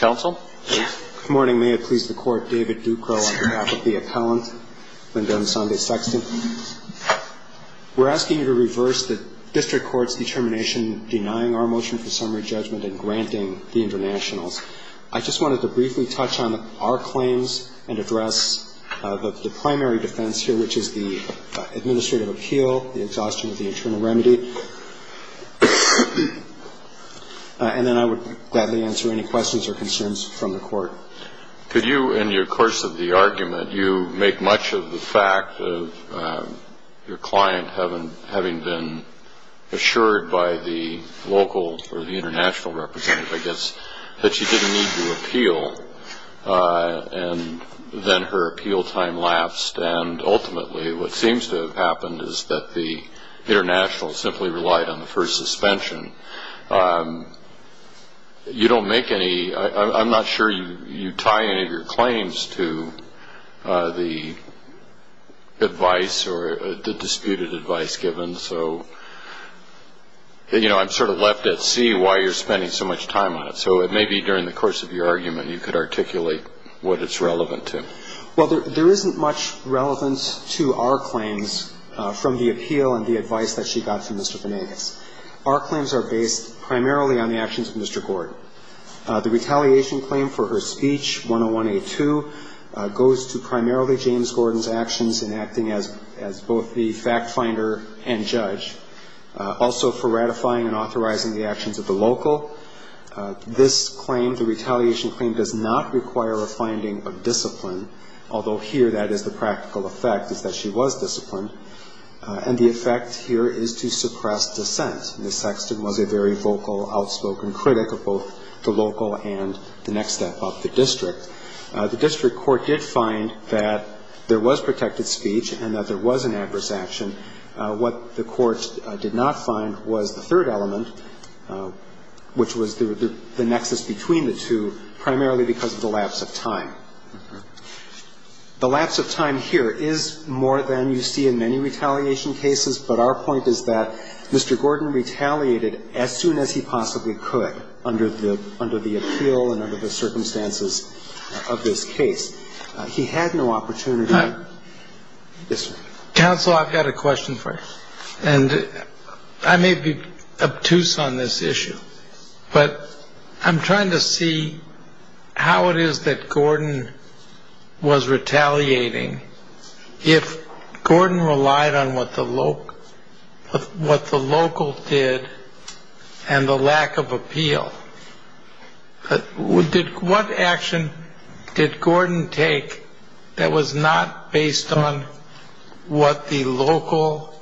Good morning. May it please the Court, David Ducro on behalf of the appellant, Lyndon Imsande-Sexton. We're asking you to reverse the district court's determination denying our motion for summary judgment and granting the internationals. I just wanted to briefly touch on our claims and address the primary defense here, which is the administrative appeal, the exhaustion of the internal remedy. And then I would gladly answer any questions or concerns from the Court. Could you, in your course of the argument, you make much of the fact of your client having been assured by the local or the international representative, I guess, that she didn't need to appeal and then her appeal time lapsed and ultimately what seems to have happened is that the internationals simply relied on the first suspension. You don't make any, I'm not sure you tie any of your claims to the advice or the disputed advice given. So, you know, I'm sort of left at sea why you're spending so much time on it. So it may be during the course of your argument you could articulate what it's relevant to. Well, there isn't much relevance to our claims from the appeal and the advice that she got from Mr. Benenix. Our claims are based primarily on the actions of Mr. Gordon. The retaliation claim for her speech, 101A2, goes to primarily James Gordon's actions in acting as both the fact-finder and judge, also for ratifying and authorizing the actions of the local. This claim, the retaliation claim, does not require a finding of discipline, although here that is the practical effect is that she was disciplined, and the effect here is to suppress dissent. Ms. Sexton was a very vocal, outspoken critic of both the local and the next step up, the district. The district court did find that there was protected speech and that there was an adverse action. What the court did not find was the third element, which was the nexus between the two, primarily because of the lapse of time. The lapse of time here is more than you see in many retaliation cases, but our point is that Mr. Gordon retaliated as soon as he possibly could under the appeal and under the circumstances of this case. He had no opportunity. Yes, sir. Counsel, I've got a question for you, and I may be obtuse on this issue, but I'm trying to see how it is that Gordon was retaliating if Gordon relied on what the local did and the lack of appeal. What action did Gordon take that was not based on what the local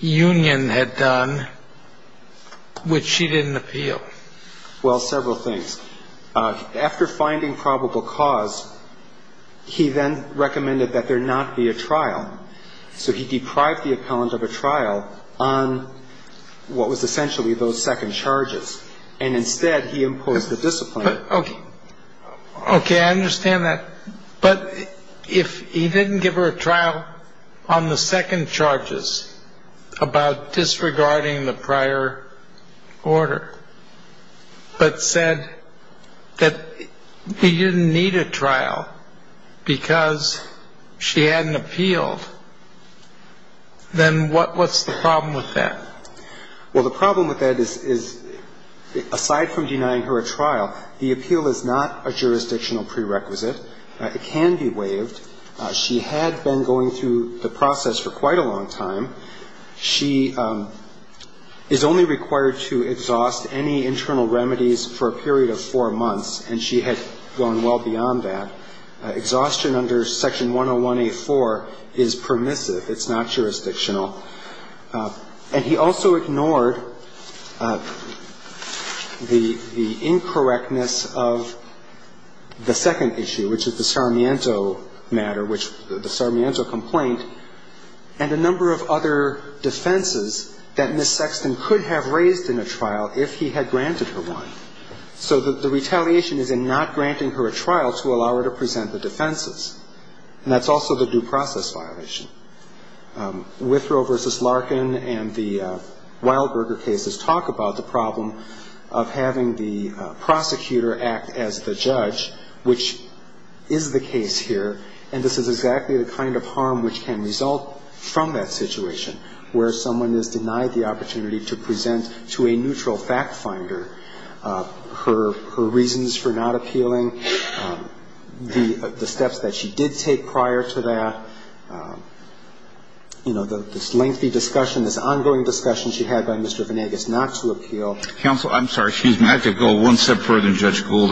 union had done, which she didn't appeal? Well, several things. After finding probable cause, he then recommended that there not be a trial, so he deprived the appellant of a trial on what was essentially those second charges, and instead he imposed the discipline. Okay, I understand that. But if he didn't give her a trial on the second charges about disregarding the prior order, but said that he didn't need a trial because she hadn't appealed, then what's the problem with that? Well, the problem with that is, aside from denying her a trial, the appeal is not a jurisdictional prerequisite. It can be waived. She had been going through the process for quite a long time. She is only required to exhaust any internal remedies for a period of four months, and she had gone well beyond that. Exhaustion under Section 101A4 is permissive. It's not jurisdictional. And he also ignored the incorrectness of the second issue, which is the Sarmiento matter, which the Sarmiento complaint, and a number of other defenses that Ms. Sexton could have raised in a trial if he had granted her one. So the retaliation is in not granting her a trial to allow her to present the defenses, and that's also the due process violation. Withrow v. Larkin and the Wildberger cases talk about the problem of having the prosecutor act as the judge, which is the case here, and this is exactly the kind of harm which can result from that situation, where someone is denied the opportunity to present to a neutral fact finder her reasons for not appealing, the steps that she did take prior to that, you know, this lengthy discussion, this ongoing discussion she had by Mr. Venegas not to appeal. Counsel, I'm sorry. Excuse me. I have to go one step further than Judge Gould.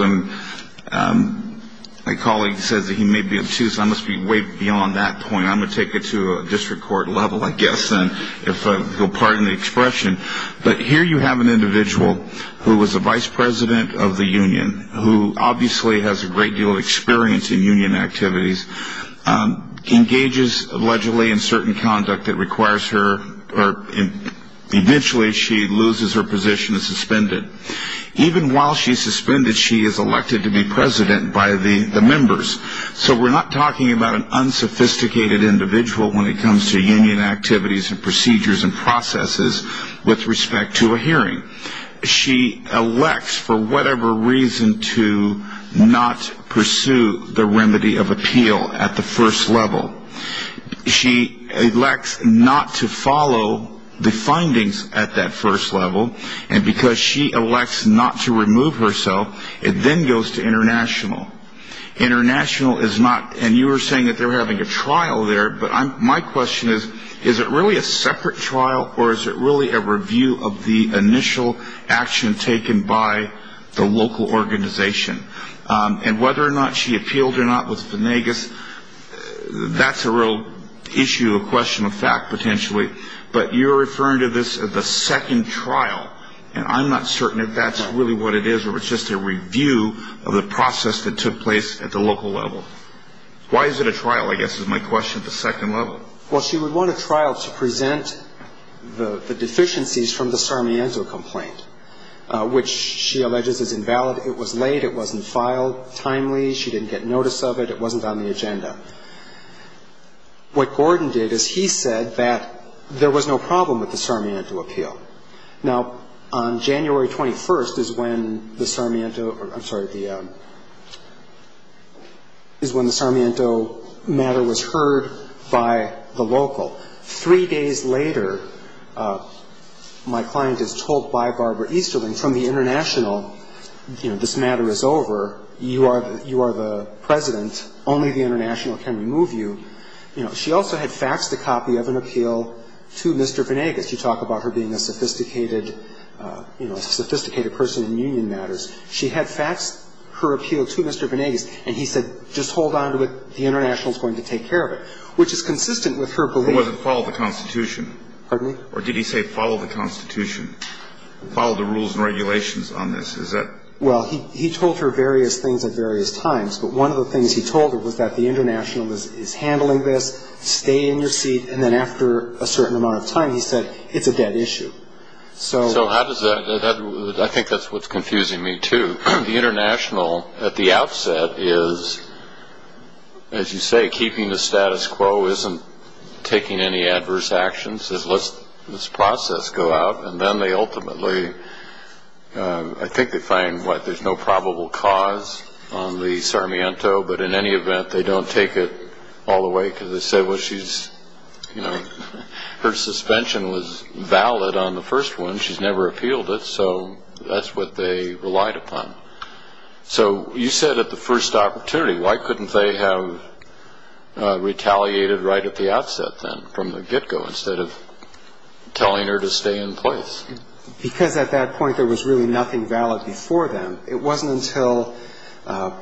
My colleague says that he may be obtuse. I must be way beyond that point. I'm going to take it to a district court level, I guess, then, if you'll pardon the expression. But here you have an individual who was a vice president of the union, who obviously has a great deal of experience in union activities, engages, allegedly, in certain conduct that requires her or eventually she loses her position and is suspended. Even while she's suspended, she is elected to be president by the members. So we're not talking about an unsophisticated individual when it comes to union activities and procedures and processes with respect to a hearing. She elects for whatever reason to not pursue the remedy of appeal at the first level. She elects not to follow the findings at that first level. And because she elects not to remove herself, it then goes to international. International is not, and you were saying that they're having a trial there, but my question is, is it really a separate trial or is it really a review of the initial action taken by the local organization? And whether or not she appealed or not with Finnegas, that's a real issue, a question of fact, potentially. But you're referring to this as the second trial. And I'm not certain if that's really what it is or it's just a review of the process that took place at the local level. Why is it a trial, I guess, is my question at the second level. Well, she would want a trial to present the deficiencies from the Sarmiento complaint, which she alleges is invalid. It was late. It wasn't filed timely. She didn't get notice of it. It wasn't on the agenda. What Gordon did is he said that there was no problem with the Sarmiento appeal. Now, on January 21st is when the Sarmiento matter was heard by the local. Three days later, my client is told by Barbara Easterling from the international, you know, this matter is over, you are the president, only the international can remove you. You know, she also had faxed a copy of an appeal to Mr. Finnegas. You talk about her being a sophisticated, you know, a sophisticated person in union matters. She had faxed her appeal to Mr. Finnegas, and he said, just hold on to it, the international is going to take care of it, which is consistent with her belief. It wasn't follow the Constitution. Pardon me? Or did he say follow the Constitution, follow the rules and regulations on this? Is that? Well, he told her various things at various times, but one of the things he told her was that the international is handling this. Stay in your seat. And then after a certain amount of time, he said, it's a dead issue. So how does that, I think that's what's confusing me, too. The international, at the outset, is, as you say, keeping the status quo, isn't taking any adverse actions, says let's process go out, and then they ultimately, I think they find what there's no probable cause on the Sarmiento, but in any event, they don't take it all the way, because they say, well, she's, you know, her suspension was valid on the first one. She's never appealed it. So that's what they relied upon. So you said at the first opportunity, why couldn't they have retaliated right at the outset then from the get-go instead of telling her to stay in place? Because at that point, there was really nothing valid before then. It wasn't until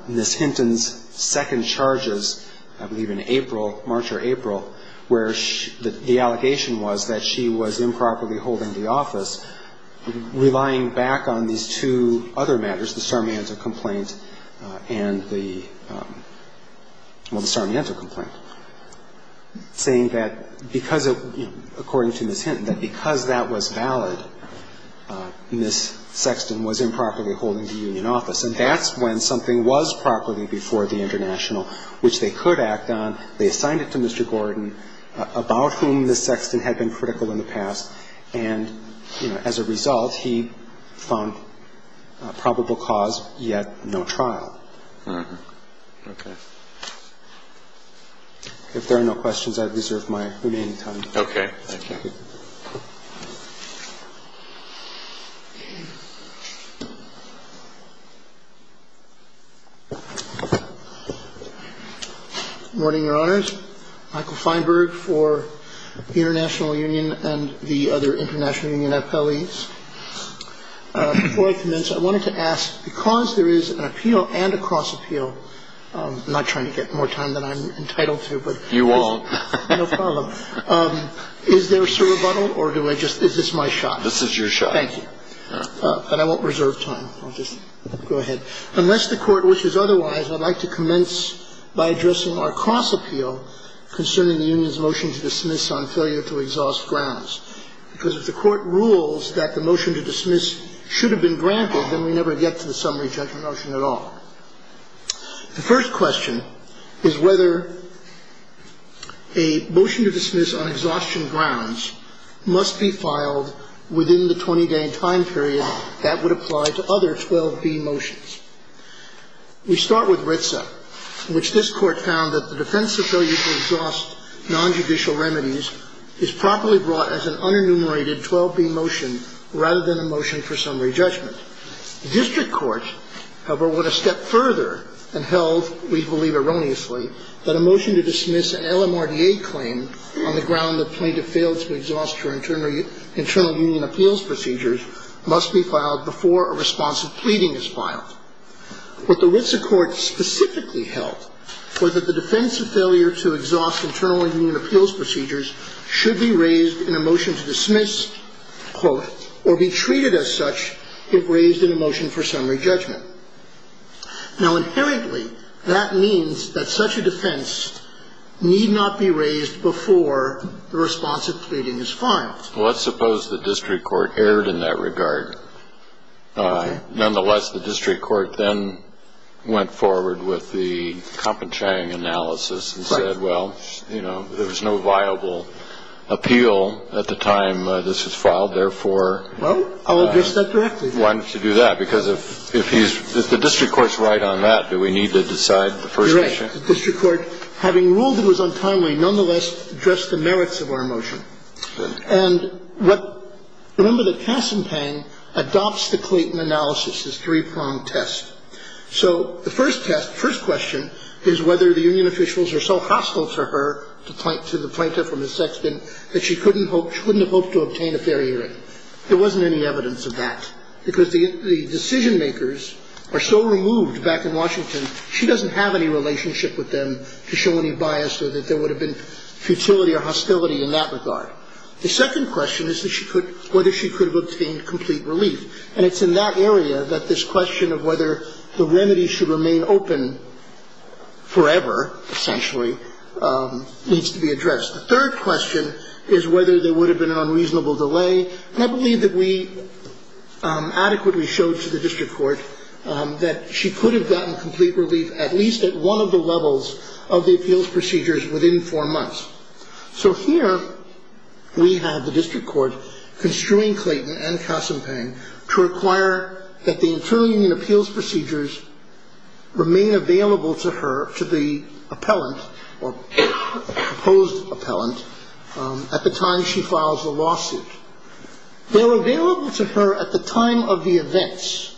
Ms. Hinton's second charges, I believe in April, March or April, where the allegation was that she was improperly holding the office, relying back on these two other matters, the Sarmiento complaint and the, well, the Sarmiento complaint, saying that because of, according to Ms. Hinton, that because that was valid, Ms. Sexton was improperly holding the union office. And that's when something was properly before the international, which they could act on. They assigned it to Mr. Gordon, about whom Ms. Sexton had been critical in the past. And, you know, as a result, he found probable cause, yet no trial. If there are no questions, I deserve my remaining time. Okay. Thank you. Good morning, Your Honors. Michael Feinberg for the International Union and the other international union appellees. Before I commence, I wanted to ask, because there is an appeal and a cross-appeal I'm not trying to get more time than I'm entitled to, but... You won't. No problem. Is there a surrebuttal or do I just, is this my shot? This is your shot. Thank you. But I won't reserve time. I'll just go ahead. Unless the Court wishes otherwise, I'd like to commence by addressing our cross-appeal concerning the union's motion to dismiss on failure to exhaust grounds. Because if the Court rules that the motion to dismiss should have been granted, then we never get to the summary judgment motion at all. The first question is whether a motion to dismiss on exhaustion grounds must be filed within the 20-day time period that would apply to other 12b motions. We start with RITSA, which this Court found that the defense's failure to exhaust nonjudicial remedies is properly brought as an unenumerated 12b motion rather than a motion for summary judgment. District courts, however, went a step further and held, we believe erroneously, that a motion to dismiss an LMRDA claim on the ground that plaintiff failed to exhaust her internal union appeals procedures must be filed before a responsive pleading is filed. What the RITSA Court specifically held was that the defense's failure to exhaust internal union appeals procedures should be raised in a motion to dismiss, quote, or be treated as such if raised in a motion for summary judgment. Now, inherently, that means that such a defense need not be raised before the responsive pleading is filed. Well, let's suppose the district court erred in that regard. Nonetheless, the district court then went forward with the compensating analysis and said, well, you know, there was no viable appeal at the time this was filed. Therefore, why don't you do that? Because if the district court's right on that, do we need to decide the first motion? You're right. The district court, having ruled it was untimely, nonetheless addressed the merits of our motion. And remember that Cass and Pang adopts the Clayton analysis, this three-prong test. So the first test, first question is whether the union officials are so hostile to her, to the plaintiff from the Sexton, that she couldn't have hoped to obtain a fair hearing. There wasn't any evidence of that. Because the decision-makers are so removed back in Washington, she doesn't have any relationship with them to show any bias or that there would have been futility or hostility in that regard. The second question is whether she could have obtained complete relief. And it's in that area that this question of whether the remedy should remain open forever, essentially, needs to be addressed. The third question is whether there would have been an unreasonable delay. And I believe that we adequately showed to the district court that she could have gotten complete relief at least at one of the levels of the appeals procedures within four months. So here we have the district court construing Clayton and Cass and Pang to require that the internal union appeals procedures remain available to her, to the appellant, or proposed appellant, at the time she files the lawsuit. They're available to her at the time of the events.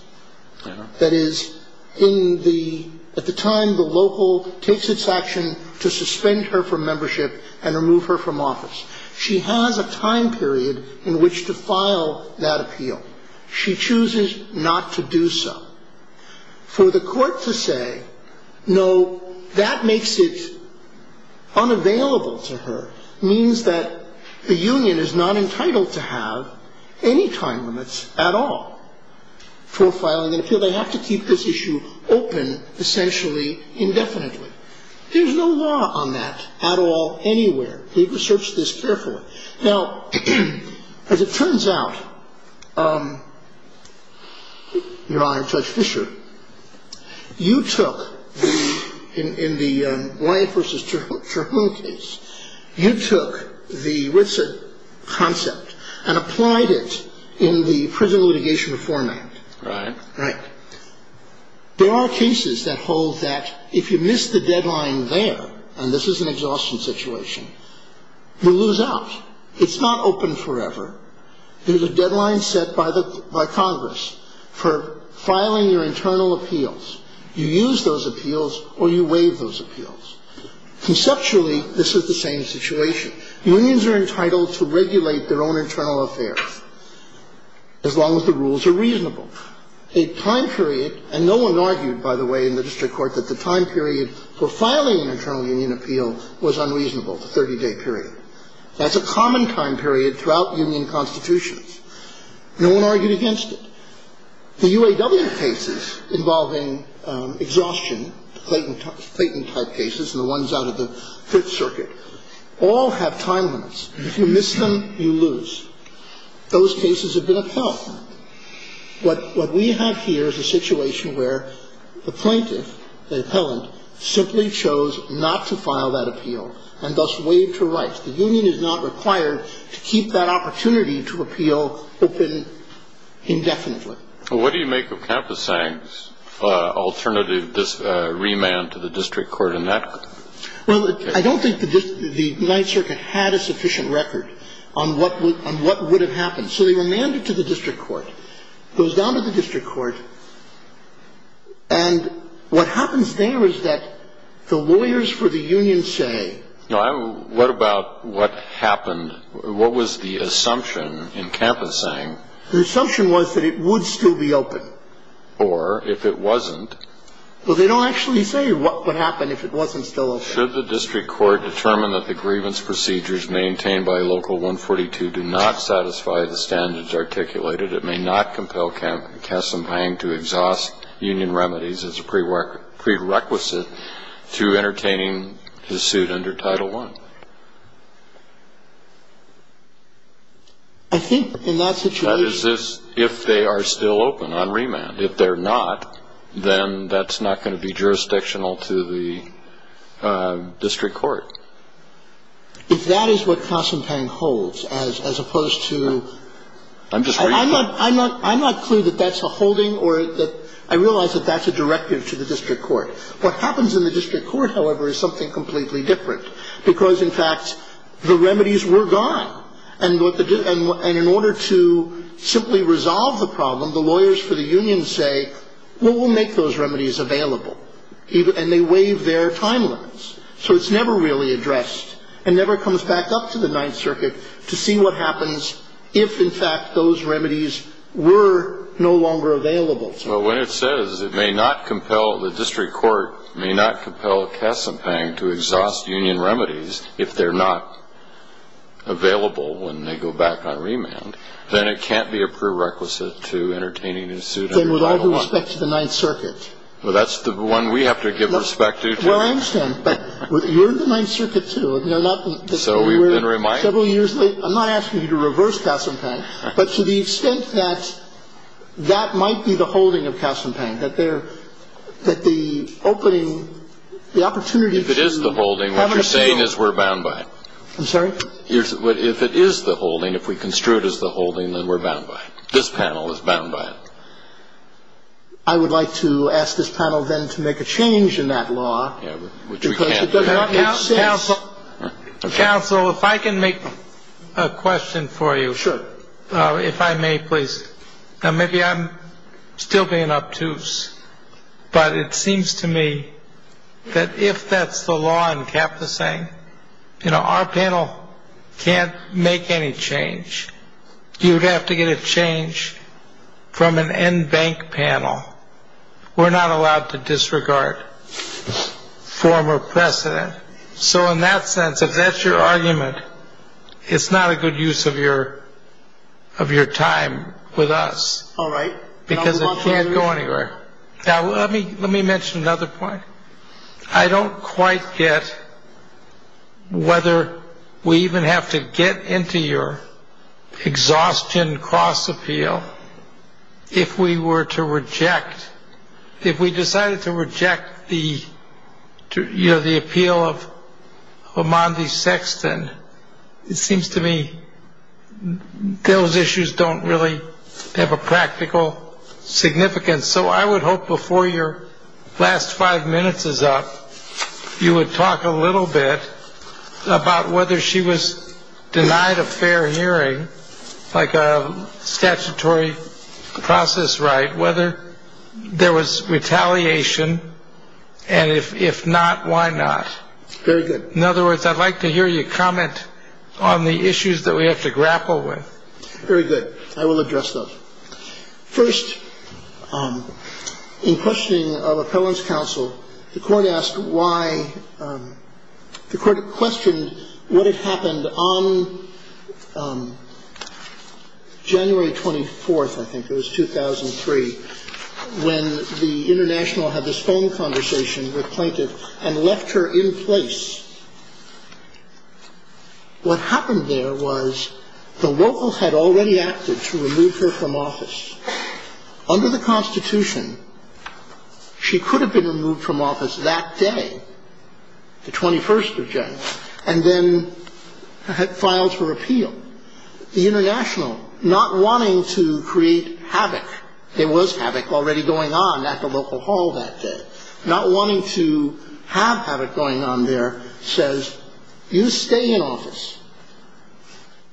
That is, at the time the local takes its action to suspend her from membership and remove her from office. She has a time period in which to file that appeal. She chooses not to do so. For the court to say, no, that makes it unavailable to her, means that the union is not entitled to have any time limits at all for filing an appeal. They have to keep this issue open, essentially, indefinitely. There's no law on that at all, anywhere. We've researched this carefully. Now, as it turns out, Your Honor, Judge Fischer, you took in the Wyatt v. Terhoon case, you took the Witson concept and applied it in the Prison Litigation Reform Act. Right. Right. There are cases that hold that if you miss the deadline there, and this is an exhaustion situation, you lose out. It's not open forever. There's a deadline set by Congress for filing your internal appeals. You use those appeals or you waive those appeals. Conceptually, this is the same situation. Unions are entitled to regulate their own internal affairs as long as the rules are reasonable. A time period, and no one argued, by the way, in the district court, that the time period for filing an internal union appeal was unreasonable, the 30-day period. That's a common time period throughout union constitutions. No one argued against it. The UAW cases involving exhaustion, Clayton-type cases and the ones out of the Fifth Circuit, all have time limits. If you miss them, you lose. Those cases have been upheld. What we have here is a situation where the plaintiff, the appellant, simply chose not to file that appeal and thus waived her rights. The union is not required to keep that opportunity to appeal open indefinitely. Well, what do you make of Kampusang's alternative remand to the district court in that case? Well, I don't think the United Circuit had a sufficient record on what would have happened. So they remanded to the district court, goes down to the district court, and what happens there is that the lawyers for the union say no. What about what happened? What was the assumption in Kampusang? The assumption was that it would still be open. Or if it wasn't. Well, they don't actually say what would happen if it wasn't still open. So should the district court determine that the grievance procedures maintained by Local 142 do not satisfy the standards articulated, it may not compel Kassambang to exhaust union remedies as a prerequisite to entertaining the suit under Title I. I think in that situation. That is, if they are still open on remand. And if they're not, then that's not going to be jurisdictional to the district court. If that is what Kassambang holds as opposed to. I'm not clear that that's a holding or that I realize that that's a directive to the district court. What happens in the district court, however, is something completely different. Because, in fact, the remedies were gone. And in order to simply resolve the problem, the lawyers for the union say, well, we'll make those remedies available. And they waive their time limits. So it's never really addressed. And never comes back up to the Ninth Circuit to see what happens if, in fact, those remedies were no longer available to them. Well, when it says it may not compel the district court, may not compel Kassambang to exhaust union remedies if they're not available when they go back on remand, then it can't be a prerequisite to entertaining a suit under Title I. Then with all due respect to the Ninth Circuit. Well, that's the one we have to give respect to, too. Well, I understand. But you're in the Ninth Circuit, too. So we've been reminded. I'm not asking you to reverse Kassambang. But to the extent that that might be the holding of Kassambang, that the opening, the opportunity to have a suit. If it is the holding, what you're saying is we're bound by it. I'm sorry? If it is the holding, if we construe it as the holding, then we're bound by it. This panel is bound by it. I would like to ask this panel, then, to make a change in that law because it does not make sense. Counsel, if I can make a question for you. Sure. If I may, please. Now, maybe I'm still being obtuse, but it seems to me that if that's the law in Kaposang, you know, our panel can't make any change. You would have to get a change from an NBank panel. We're not allowed to disregard former precedent. So in that sense, if that's your argument, it's not a good use of your time with us. All right. Because it can't go anywhere. Now, let me mention another point. I don't quite get whether we even have to get into your exhaustion cross appeal if we were to reject, if we decided to reject the appeal of Amandi Sexton. It seems to me those issues don't really have a practical significance. So I would hope before your last five minutes is up, you would talk a little bit about whether she was denied a fair hearing, like a statutory process right, whether there was retaliation. And if not, why not? Very good. In other words, I'd like to hear you comment on the issues that we have to grapple with. Very good. I will address those. First, in questioning of appellant's counsel, the court asked why. The court questioned what had happened on January 24th, I think it was, 2003, when the international had this phone conversation with plaintiff and left her in place. What happened there was the locals had already acted to remove her from office. Under the Constitution, she could have been removed from office that day, the 21st of January, and then had filed for appeal. The international, not wanting to create havoc, there was havoc already going on at the local hall that day, not wanting to have havoc going on there, says you stay in office.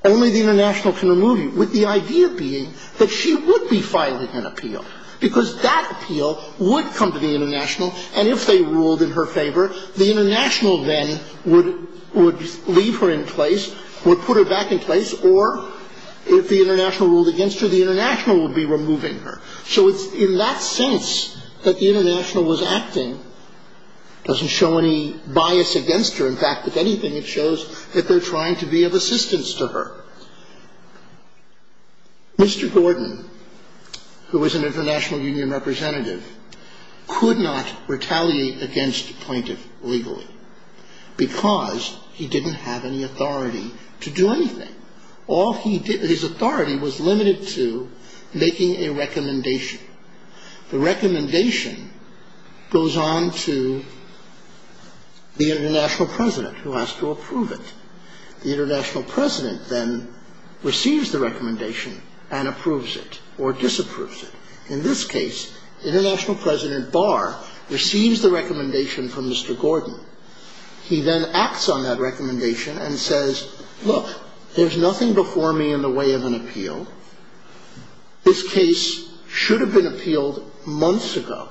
Only the international can remove you, with the idea being that she would be filing an appeal, because that appeal would come to the international, and if they ruled in her favor, the international then would leave her in place, would put her back in place, or if the international ruled against her, the international would be removing her. So it's in that sense that the international was acting. It doesn't show any bias against her. In fact, if anything, it shows that they're trying to be of assistance to her. Mr. Gordon, who was an international union representative, could not retaliate against the plaintiff legally, because he didn't have any authority to do anything. All he did, his authority was limited to making a recommendation. The recommendation goes on to the international president, who has to approve it. The international president then receives the recommendation and approves it or disapproves it. In this case, international president Barr receives the recommendation from Mr. Gordon. He then acts on that recommendation and says, look, there's nothing before me in the way of an appeal. This case should have been appealed months ago.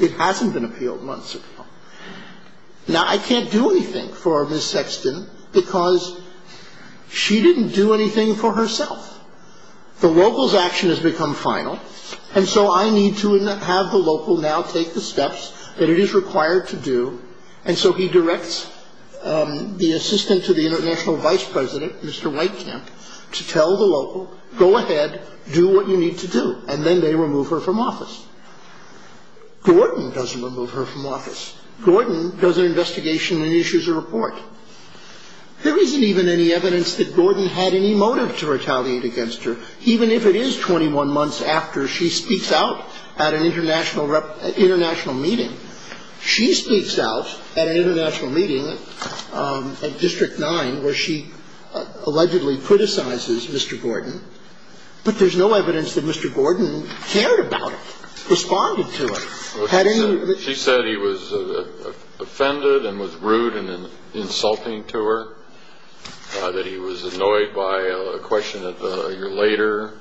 It hasn't been appealed months ago. Now, I can't do anything for Ms. Sexton because she didn't do anything for herself. The local's action has become final, and so I need to have the local now take the steps that it is required to do. And so he directs the assistant to the international vice president, Mr. Weitkamp, to tell the local, go ahead, do what you need to do, and then they remove her from office. Gordon doesn't remove her from office. Gordon does an investigation and issues a report. There isn't even any evidence that Gordon had any motive to retaliate against her, even if it is 21 months after she speaks out at an international meeting. She speaks out at an international meeting at District 9 where she allegedly criticizes Mr. Gordon, but there's no evidence that Mr. Gordon cared about her, responded to her. She said he was offended and was rude and insulting to her, that he was annoyed by a question a year later,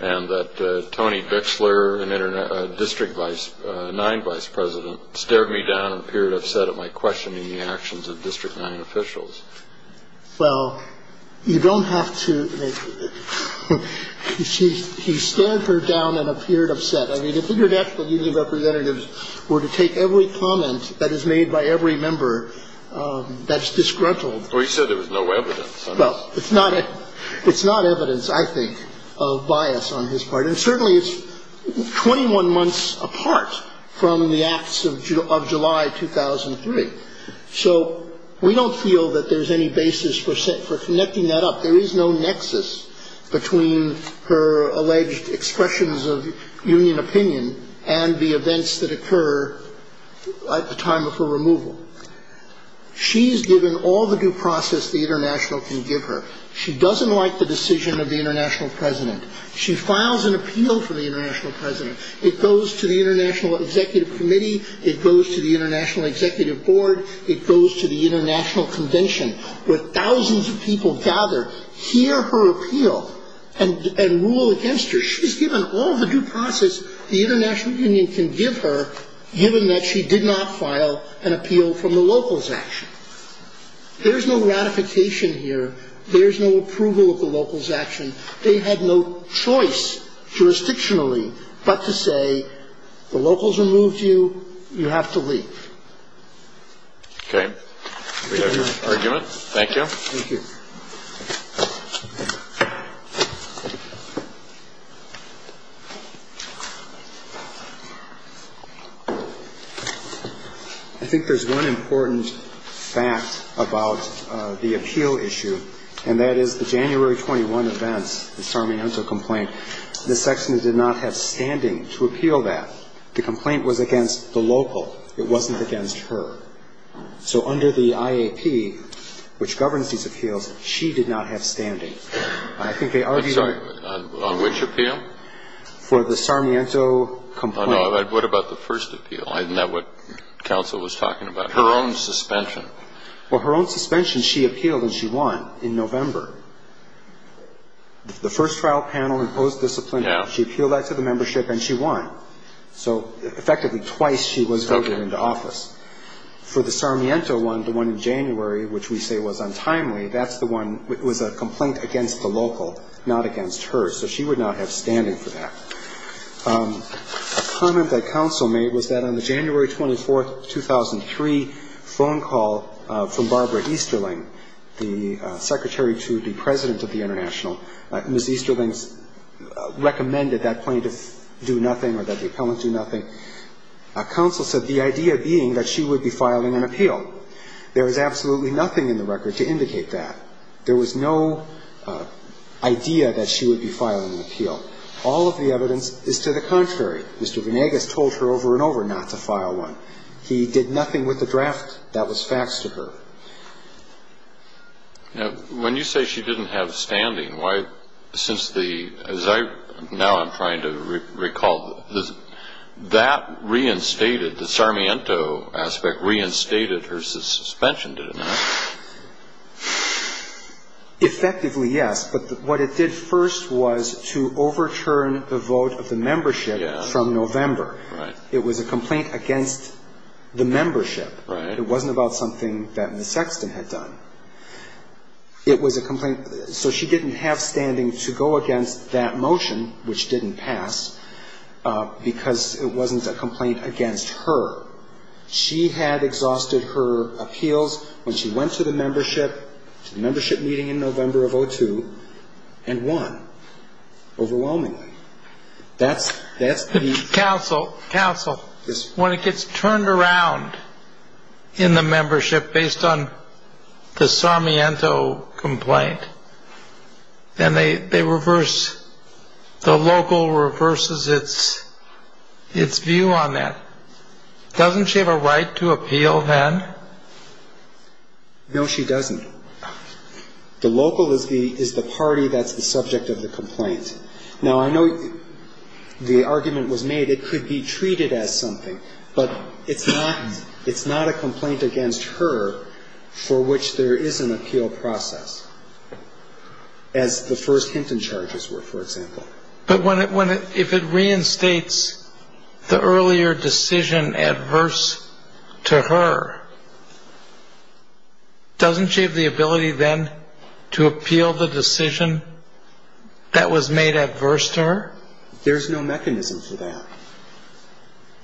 and that Tony Bixler, a District 9 vice president, stared me down and appeared upset at my questioning the actions of District 9 officials. Well, you don't have to. He stared her down and appeared upset. I mean, if international union representatives were to take every comment that is made by every member, that's disgruntled. Well, he said there was no evidence. Well, it's not evidence, I think, of bias on his part, and certainly it's 21 months apart from the acts of July 2003. So we don't feel that there's any basis for connecting that up. There is no nexus between her alleged expressions of union opinion and the events that occur at the time of her removal. She's given all the due process the international can give her. She doesn't like the decision of the international president. She files an appeal for the international president. It goes to the international executive committee. It goes to the international executive board. It goes to the international convention where thousands of people gather, hear her appeal and rule against her. She's given all the due process the international union can give her, given that she did not file an appeal from the locals' action. There's no ratification here. There's no approval of the locals' action. They had no choice jurisdictionally but to say the locals removed you. You have to leave. Okay. We have your argument. Thank you. Thank you. I think there's one important fact about the appeal issue, and that is the January 21 events, the Sarmiento complaint. The section did not have standing to appeal that. The complaint was against the local. It wasn't against her. So under the IAP, which governs these appeals, she did not have standing. I think they argued on the Sarmiento complaint. What about the first appeal? Isn't that what counsel was talking about? Her own suspension. Well, her own suspension, she appealed and she won in November. The first trial panel imposed disciplinary. She appealed that to the membership and she won. So effectively twice she was voted into office. For the Sarmiento one, the one in January, which we say was untimely, that's the one. It was a complaint against the local, not against her. So she would not have standing for that. A comment that counsel made was that on the January 24, 2003, phone call from Barbara Easterling, the secretary to the president of the International, Ms. Easterling recommended that plaintiff do nothing or that the appellant do nothing. Counsel said the idea being that she would be filing an appeal. There was absolutely nothing in the record to indicate that. There was no idea that she would be filing an appeal. All of the evidence is to the contrary. Mr. Venegas told her over and over not to file one. He did nothing with the draft. That was facts to her. When you say she didn't have standing, why, since the, as I, now I'm trying to recall, that reinstated, the Sarmiento aspect reinstated her suspension, did it not? Effectively, yes. But what it did first was to overturn the vote of the membership from November. It was a complaint against the membership. Right. It wasn't about something that Ms. Sexton had done. It was a complaint, so she didn't have standing to go against that motion, which didn't pass, because it wasn't a complaint against her. She had exhausted her appeals when she went to the membership, to the membership meeting in November of 2002, and won, overwhelmingly. That's the... Counsel, counsel. Yes. When it gets turned around in the membership based on the Sarmiento complaint, then they reverse, the local reverses its view on that. Doesn't she have a right to appeal then? No, she doesn't. The local is the party that's the subject of the complaint. Now, I know the argument was made it could be treated as something, but it's not a complaint against her for which there is an appeal process, as the first Hinton charges were, for example. But if it reinstates the earlier decision adverse to her, doesn't she have the ability then to appeal the decision that was made adverse to her? There's no mechanism for that.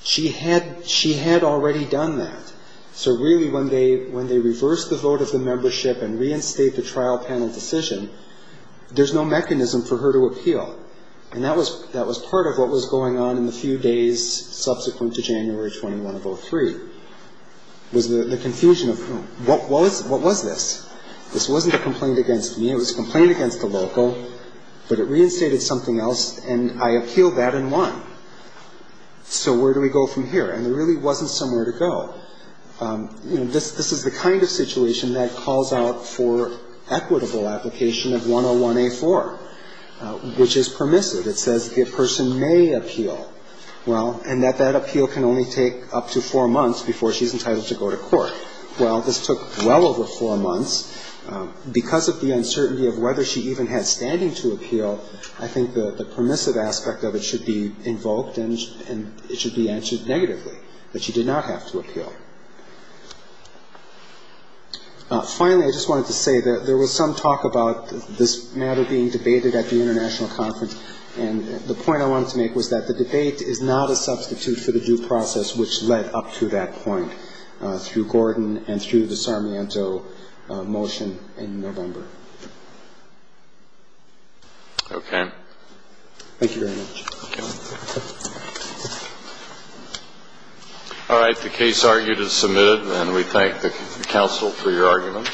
She had already done that. So really when they reverse the vote of the membership and reinstate the trial panel decision, there's no mechanism for her to appeal. And that was part of what was going on in the few days subsequent to January 21 of 2003, was the confusion of what was this? This wasn't a complaint against me. It was a complaint against the local. But it reinstated something else, and I appealed that and won. So where do we go from here? And there really wasn't somewhere to go. You know, this is the kind of situation that calls out for equitable application of 101A4, which is permissive. It says the person may appeal. Well, and that that appeal can only take up to four months before she's entitled to go to court. Well, this took well over four months. Because of the uncertainty of whether she even had standing to appeal, I think the permissive aspect of it should be invoked and it should be answered negatively, that she did not have to appeal. Finally, I just wanted to say that there was some talk about this matter being debated at the international conference. And the point I wanted to make was that the debate is not a substitute for the due process, which led up to that point through Gordon and through the Sarmiento motion in November. Okay. Thank you very much. Thank you. All right. The case argued is submitted, and we thank the counsel for your argument.